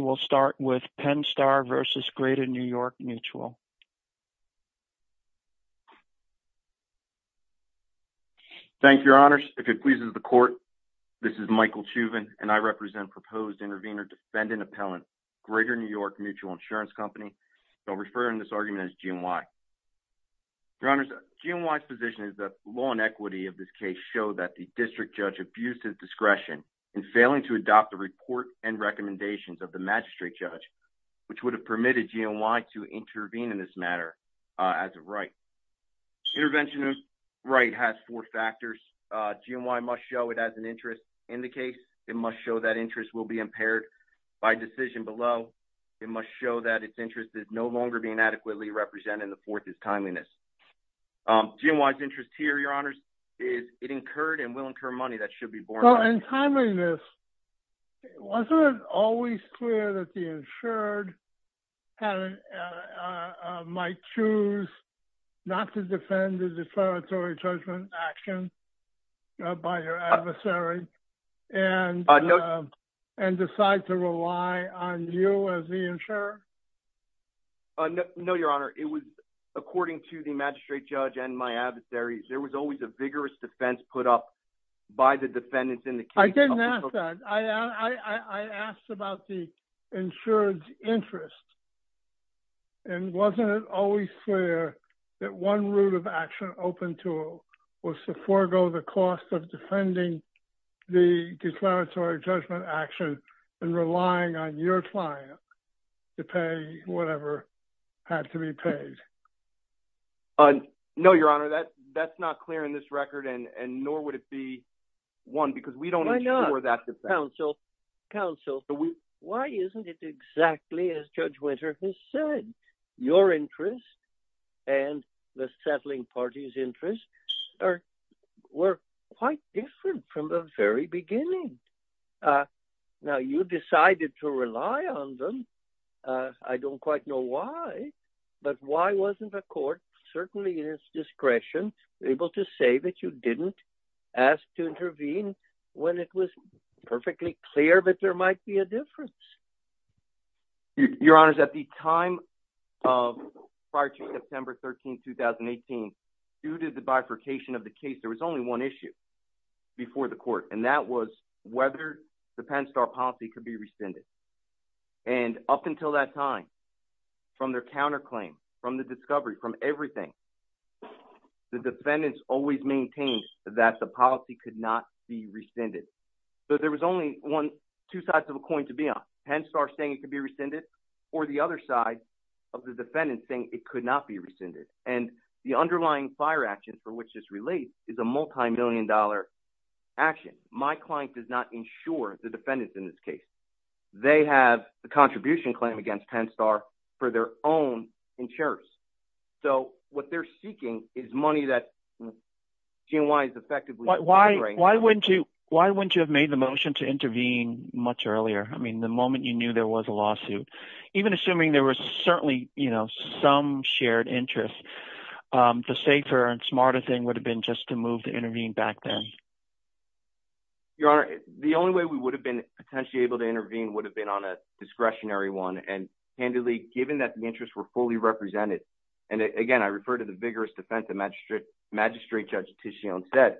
will start with Penn-Star v. Greater New York Mutual. Thank you, Your Honors. If it pleases the court, this is Michael Chauvin, and I represent proposed intervenor-defendant appellant, Greater New York Mutual Insurance Company. I'll refer in this argument as GNY. Your Honors, GNY's position is that law and equity of this case show that the district judge abused his discretion in of the magistrate judge, which would have permitted GNY to intervene in this matter as a right. Intervention as right has four factors. GNY must show it has an interest in the case. It must show that interest will be impaired by decision below. It must show that its interest is no longer being adequately represented. The fourth is timeliness. GNY's interest here, Your Honors, is it incurred and should be borne. So in timeliness, wasn't it always clear that the insured might choose not to defend the declaratory judgment action by your adversary and decide to rely on you as the insurer? No, Your Honor. It was, according to the magistrate judge and my adversaries, there was always a vigorous defense put up by the defendants in the case. I didn't ask that. I asked about the insured's interest. And wasn't it always clear that one route of action open to was to forego the cost of defending the declaratory judgment action and relying on your client to pay whatever had to be paid? No, Your Honor. That's not clear in this record and and nor would it be one because we don't know where that defense is. Counsel, why isn't it exactly as Judge Winter has said? Your interest and the settling party's interest were quite different from the very beginning. Now, you decided to rely on them. I don't quite know why, but why to say that you didn't ask to intervene when it was perfectly clear that there might be a difference? Your Honor, at the time of prior to September 13, 2018, due to the bifurcation of the case, there was only one issue before the court and that was whether the Penn Star policy could be rescinded. And up until that time, from their counterclaim, from the discovery, from everything, the defendants always maintained that the policy could not be rescinded. So there was only one, two sides of a coin to be on. Penn Star saying it could be rescinded or the other side of the defendant saying it could not be rescinded. And the underlying fire action for which this relates is a multi-million dollar action. My client does not insure the defendants in this case. They have the money of their own insurance. So what they're seeking is money that GNY is effectively… Why wouldn't you have made the motion to intervene much earlier? I mean, the moment you knew there was a lawsuit, even assuming there was certainly, you know, some shared interest, the safer and smarter thing would have been just to move to intervene back then. Your Honor, the only way we would have been potentially able to intervene would have been on a discretionary one. And handily, given that the interests were fully represented, and again, I refer to the vigorous defense that Magistrate Judge Titillion said,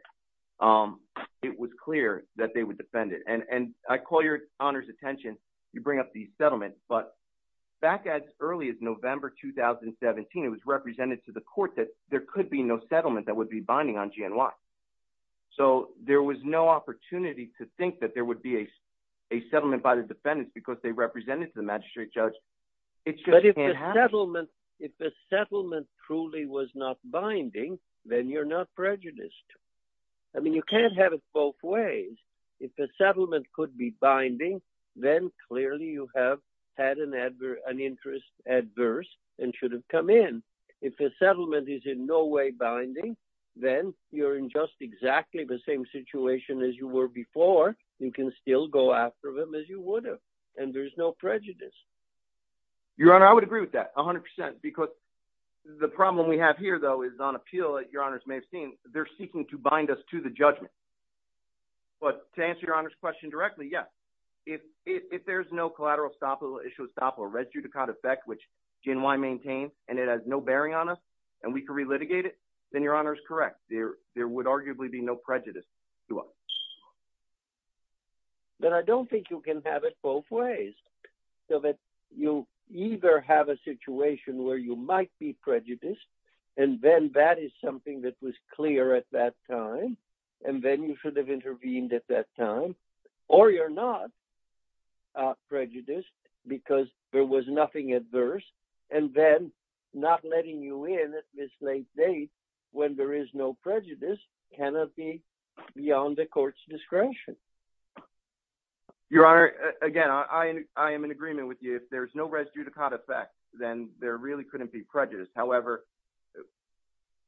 it was clear that they would defend it. And I call your Honor's attention, you bring up the settlement, but back as early as November 2017, it was represented to the court that there could be no settlement that would be binding on GNY. So there was no opportunity to think that there would be a settlement by the defendants because they represented to the Magistrate Judge. But if the settlement truly was not binding, then you're not prejudiced. I mean, you can't have it both ways. If the settlement could be binding, then clearly you have had an interest adverse and should have come in. If the settlement is in no way binding, then you're in just exactly the same situation as you were before. You can still go after them as you would have, and there's no prejudice. Your Honor, I would agree with that, 100%, because the problem we have here, though, is on appeal, as your Honors may have seen, they're seeking to bind us to the judgment. But to answer your Honor's question directly, yes, if there's no collateral estoppel, issue estoppel, res judicat effect, which GNY maintains, and it has no bearing on us, and we could re-litigate it, then your Honor's correct. There would arguably be no prejudice to us. But I don't think you can have it both ways, so that you either have a situation where you might be prejudiced, and then that is something that was clear at that time, and then you should have intervened at that time, or you're not prejudiced because there was no prejudice, cannot be beyond the court's discretion. Your Honor, again, I am in agreement with you. If there's no res judicata effect, then there really couldn't be prejudice. However,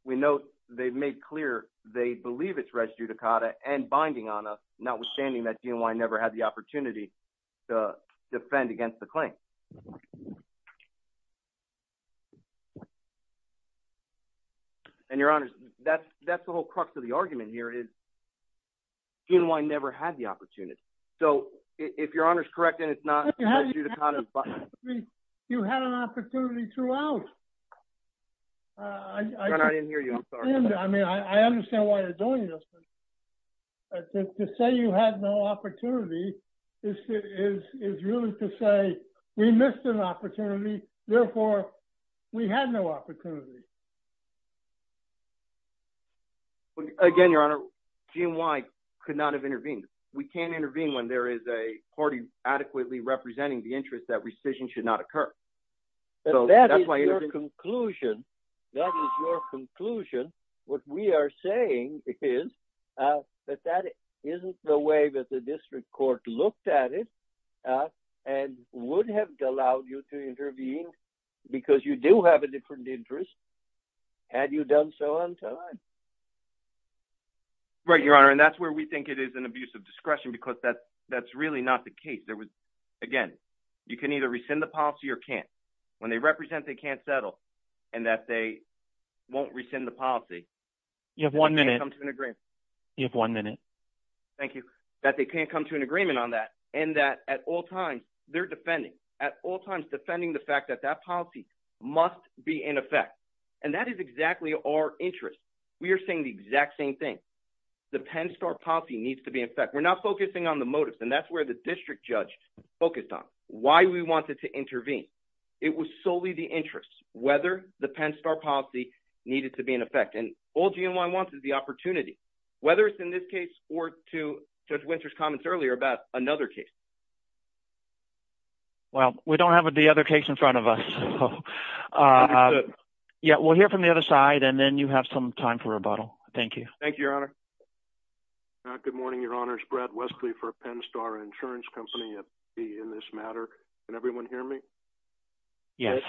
we know they've made clear they believe it's res judicata and binding on us, notwithstanding that GNY never had the opportunity. That's the whole crux of the argument here, is GNY never had the opportunity. So, if your Honor's correct, and it's not res judicata and binding on us. You had an opportunity throughout. Your Honor, I didn't hear you, I'm sorry. I understand why you're doing this, but to say you had no opportunity is really to say we missed an opportunity, therefore, we had no opportunity. Again, Your Honor, GNY could not have intervened. We can't intervene when there is a party adequately representing the interest that rescission should not occur. That is your conclusion. That is your conclusion. What we are saying is that that isn't the way that the district court looked at it and would have allowed you to intervene because you do have a different interest had you done so on time. Right, Your Honor, and that's where we think it is an abuse of discretion because that that's really not the case. There was, again, you can either rescind the policy or can't. When they represent they can't settle and that they won't rescind the policy. You have one minute. You have one minute. Thank you. That they can't come to an agreement on that and that at all times they're defending, at all times defending the fact that that policy must be in effect and that is exactly our interest. We are saying the exact same thing. The Penn Star policy needs to be in effect. We're not focusing on the motives and that's where the district judge focused on, why we wanted to intervene. It was solely the interest, whether the Penn Star policy needed to be in effect and all GNY wants is the opportunity, whether it's in this case or to Judge Winter's comments earlier about another case. Well, we don't have the other case in front of us. Yeah, we'll hear from the other side and then you have some time for rebuttal. Thank you. Thank you, Your Honor. Good morning, Your Honors. Brad Westley for Penn Star Insurance Company in this matter. Can everyone hear me? Yes.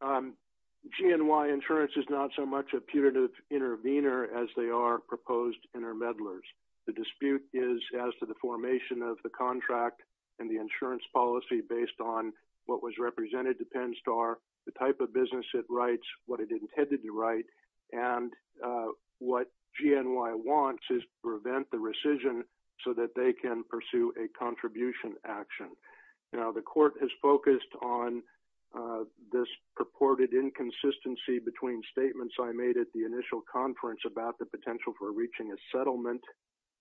GNY insurance is not so much a putative intervener as they are proposed intermediators. The dispute is as to the formation of the contract and the insurance policy based on what was represented to Penn Star, the type of business it writes, what it intended to write, and what GNY wants is to prevent the rescission so that they can pursue a contribution action. Now, the court has focused on this purported inconsistency between statements I made at the initial conference about the potential for reaching a settlement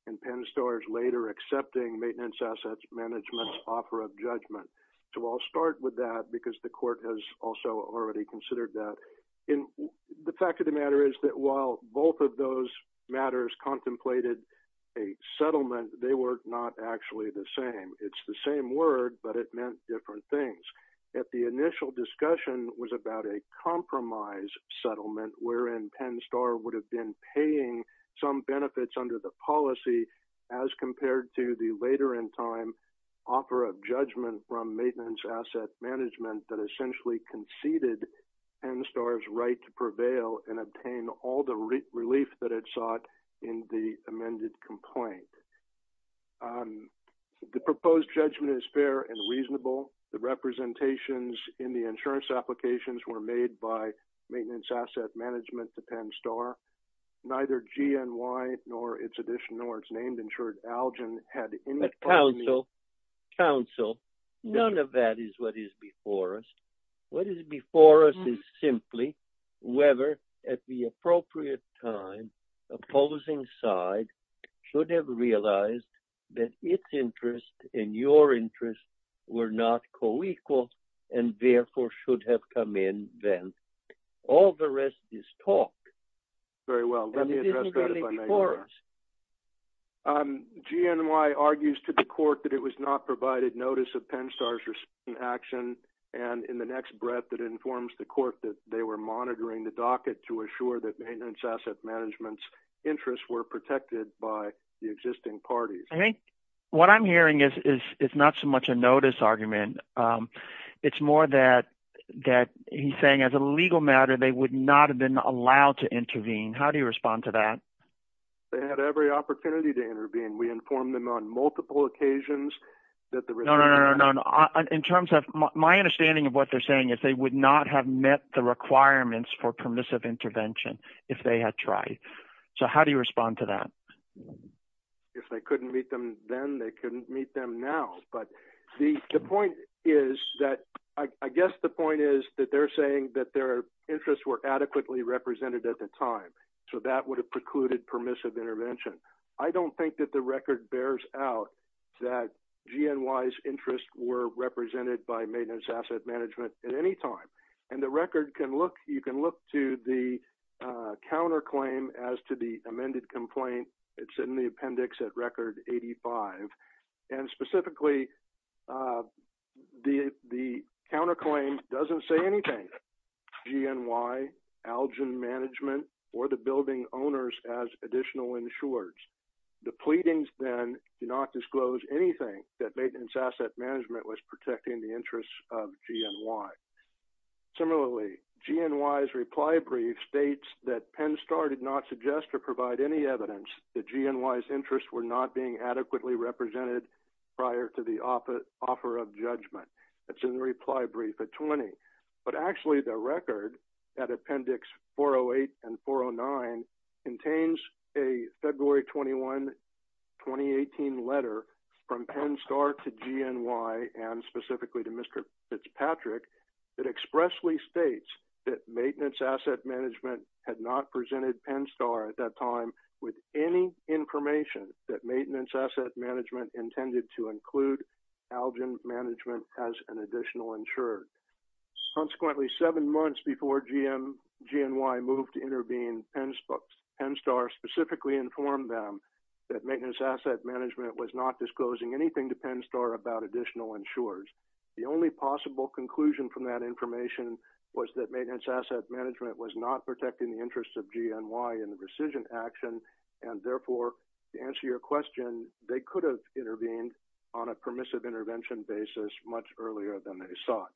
and Penn Star's later accepting Maintenance Assets Management's offer of judgment. So I'll start with that because the court has also already considered that. The fact of the matter is that while both of those matters contemplated a settlement, they were not actually the same. It's the same word, but it meant different things. If the initial discussion was about a compromise settlement wherein Penn Star would have been paying some benefits under the policy as compared to the later in time offer of judgment from Maintenance Asset Management that essentially conceded Penn Star's right to prevail and obtain all the relief that it sought in the amended complaint. The proposed judgment is fair and reasonable. The representations in the insurance applications were made by neither GNY nor its addition nor its name insured Algen had any... But counsel, counsel, none of that is what is before us. What is before us is simply whether at the appropriate time opposing side should have realized that its interest and your interest were not co-equal and therefore should have come in then. All the rest is talk. Very well, let me address that if I may. GNY argues to the court that it was not provided notice of Penn Star's action and in the next breath that informs the court that they were monitoring the docket to assure that Maintenance Asset Management's interests were protected by the existing parties. I think what I'm hearing is it's not so much a notice argument. It's more that that he's saying as a legal matter they would not have been allowed to intervene. How do you respond to that? They had every opportunity to intervene. We informed them on multiple occasions. No, no, no. In terms of my understanding of what they're saying is they would not have met the requirements for permissive intervention if they had tried. So how do you respond to that? If they couldn't meet them then they couldn't meet them now. But the point is that I guess the point is that they're saying that their interests were adequately represented at the time so that would have precluded permissive intervention. I don't think that the record bears out that GNY's interests were represented by Maintenance Asset Management at any time and the record can look you can look to the counter claim as to the amended complaint. It's in the appendix at record 85 and the counter claim doesn't say anything. GNY, Algen Management, or the building owners as additional insurers. The pleadings then do not disclose anything that Maintenance Asset Management was protecting the interests of GNY. Similarly, GNY's reply brief states that Penn Star did not suggest or provide any evidence that GNY's interests were not being adequately represented prior to the offer of judgment. That's in the reply brief at 20. But actually the record at appendix 408 and 409 contains a February 21, 2018 letter from Penn Star to GNY and specifically to Mr. Fitzpatrick that expressly states that Maintenance Asset Management had not presented Penn Star at that time with any information that Maintenance Asset Management intended to include Algen Management as an additional insurer. Consequently, seven months before GNY moved to intervene, Penn Star specifically informed them that Maintenance Asset Management was not disclosing anything to Penn Star about additional insurers. The only possible conclusion from that information was that Maintenance Asset Management was not protecting the interests of GNY in their decision. Therefore, to answer your question, they could have intervened on a permissive intervention basis much earlier than they thought.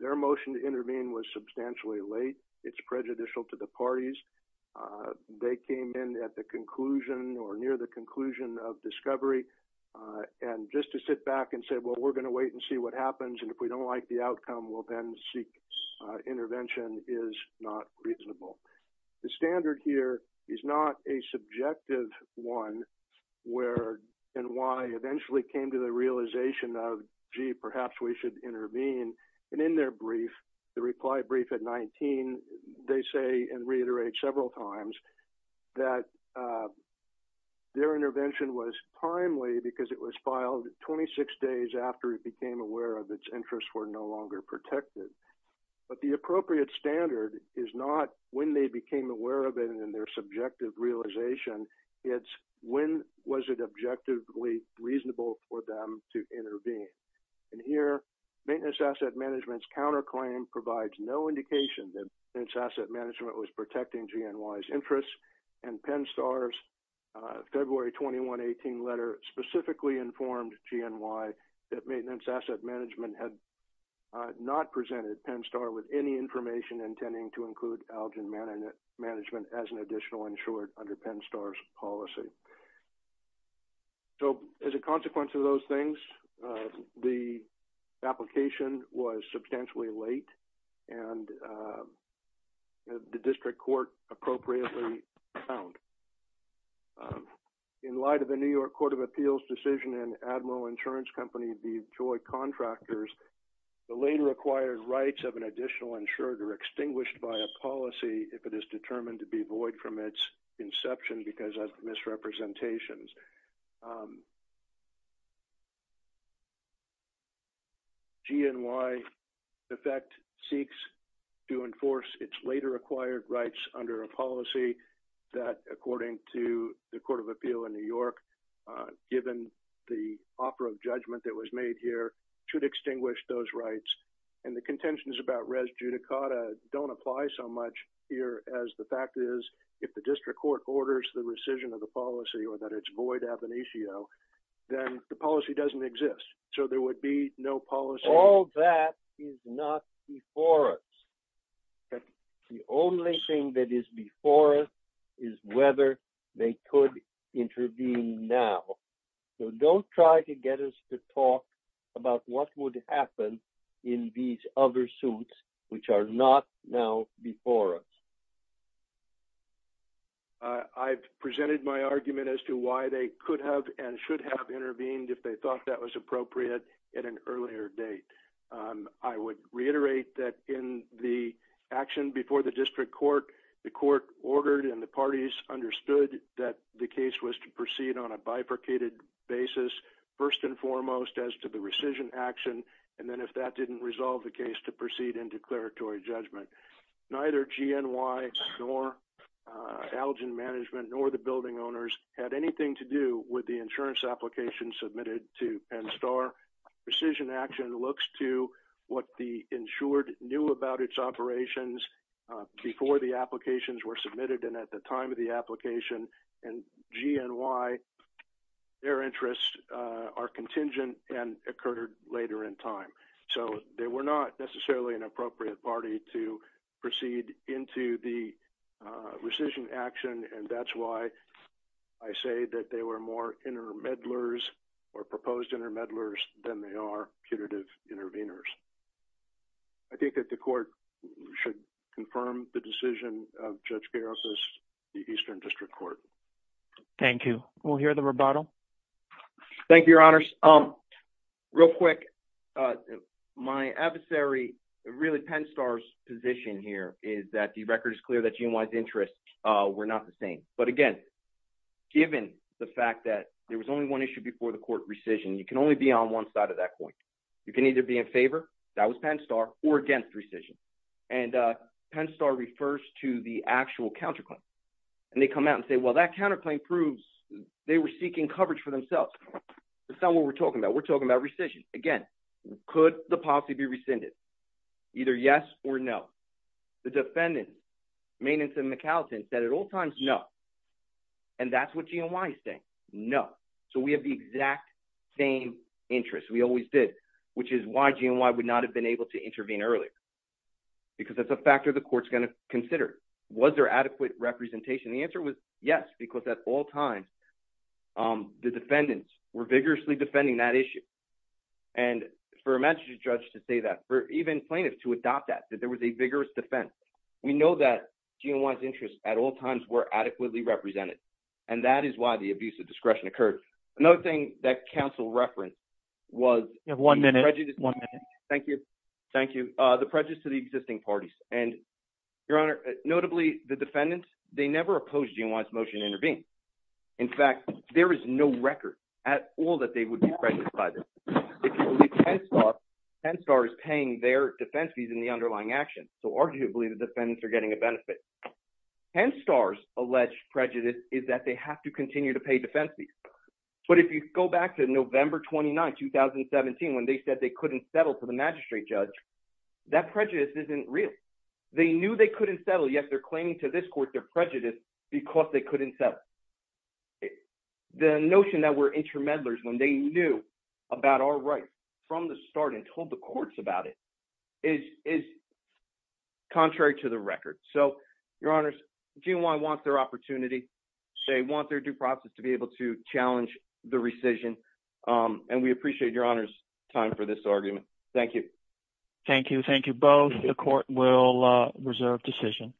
Their motion to intervene was substantially late. It's prejudicial to the parties. They came in at the conclusion or near the conclusion of discovery and just to sit back and say, well, we're going to wait and see what happens and if we don't like the outcome, we'll then seek intervention is not reasonable. The standard here is not a subjective one where GNY eventually came to the realization of, gee, perhaps we should intervene. And in their brief, the reply brief at 19, they say and reiterate several times that their intervention was timely because it was filed 26 days after it became aware of its interests were no longer protected. But the appropriate standard is not when they became aware of it and their subjective realization. It's when was it objectively reasonable for them to intervene. And here, Maintenance Asset Management's counterclaim provides no indication that Maintenance Asset Management was protecting GNY's interests and Penn Star's February 21, 18 letter specifically informed GNY that Maintenance Asset Management had not presented Penn Star with any information intending to include Algin Management as an additional insured under Penn Star's policy. So as a consequence of those things, the application was substantially late and the district court appropriately found. In light of the New York Court of Appeals decision and Admiral Insurance Company, the Detroit contractors, the later acquired rights of an additional insured are extinguished by a policy if it is determined to be void from its inception because of misrepresentations. GNY, in effect, seeks to enforce its later acquired rights under a policy that, according to the Court of Appeal in New York, should extinguish those rights. And the contentions about res judicata don't apply so much here as the fact is if the district court orders the rescission of the policy or that it's void ab initio, then the policy doesn't exist. So there would be no policy... All that is not before us. The only thing that is before us is whether they could intervene now. So don't try to get us to about what would happen in these other suits which are not now before us. I've presented my argument as to why they could have and should have intervened if they thought that was appropriate at an earlier date. I would reiterate that in the action before the district court, the court ordered and the parties understood that the case was to proceed on a bifurcated basis, first and foremost, with precision action, and then if that didn't resolve the case, to proceed in declaratory judgment. Neither GNY nor Algin Management nor the building owners had anything to do with the insurance application submitted to Penn Star. Precision action looks to what the insured knew about its operations before the applications were submitted and at the time of the application. And GNY, their interests are contingent and occurred later in time. So they were not necessarily an appropriate party to proceed into the precision action and that's why I say that they were more intermeddlers or proposed intermeddlers than they are punitive interveners. I think that the court should confirm the Thank you. We'll hear the rebuttal. Thank you, your honors. Um, real quick, my adversary, really Penn Star's position here, is that the record is clear that GNY's interests were not the same. But again, given the fact that there was only one issue before the court, rescission, you can only be on one side of that point. You can either be in favor, that was Penn Star, or against rescission. And Penn Star refers to the actual counterclaim. And they come out and say, well that counterclaim proves they were seeking coverage for themselves. That's not what we're talking about. We're talking about rescission. Again, could the policy be rescinded? Either yes or no. The defendant, Mainenson McAllison, said at all times, no. And that's what GNY is saying. No. So we have the exact same interest. We always did. Which is why GNY would not have been able to intervene earlier. Because that's a factor the court's going to consider. Was there was a vigorous defense. Because at all times, the defendants were vigorously defending that issue. And for a magistrate judge to say that, for even plaintiffs to adopt that, that there was a vigorous defense. We know that GNY's interests at all times were adequately represented. And that is why the abuse of discretion occurred. Another thing that counsel referenced was one minute. Thank you. Thank you. The prejudice to the existing parties. And Your Honor, notably, the defendants, they never opposed GNY's motion to claim. In fact, there is no record at all that they would be prejudiced by this. If you look at Penstar, Penstar is paying their defense fees in the underlying action. So arguably, the defendants are getting a benefit. Penstar's alleged prejudice is that they have to continue to pay defense fees. But if you go back to November 29, 2017, when they said they couldn't settle to the magistrate judge, that prejudice isn't real. They knew they couldn't settle, yet they're claiming to this court their prejudice because they couldn't settle. The notion that we're intermeddlers when they knew about our rights from the start and told the courts about it is contrary to the record. So, Your Honors, GNY wants their opportunity. They want their due process to be able to challenge the rescission. And we appreciate Your Honor's time for this argument. Thank you. Thank you. Thank you both. The court will reserve decision.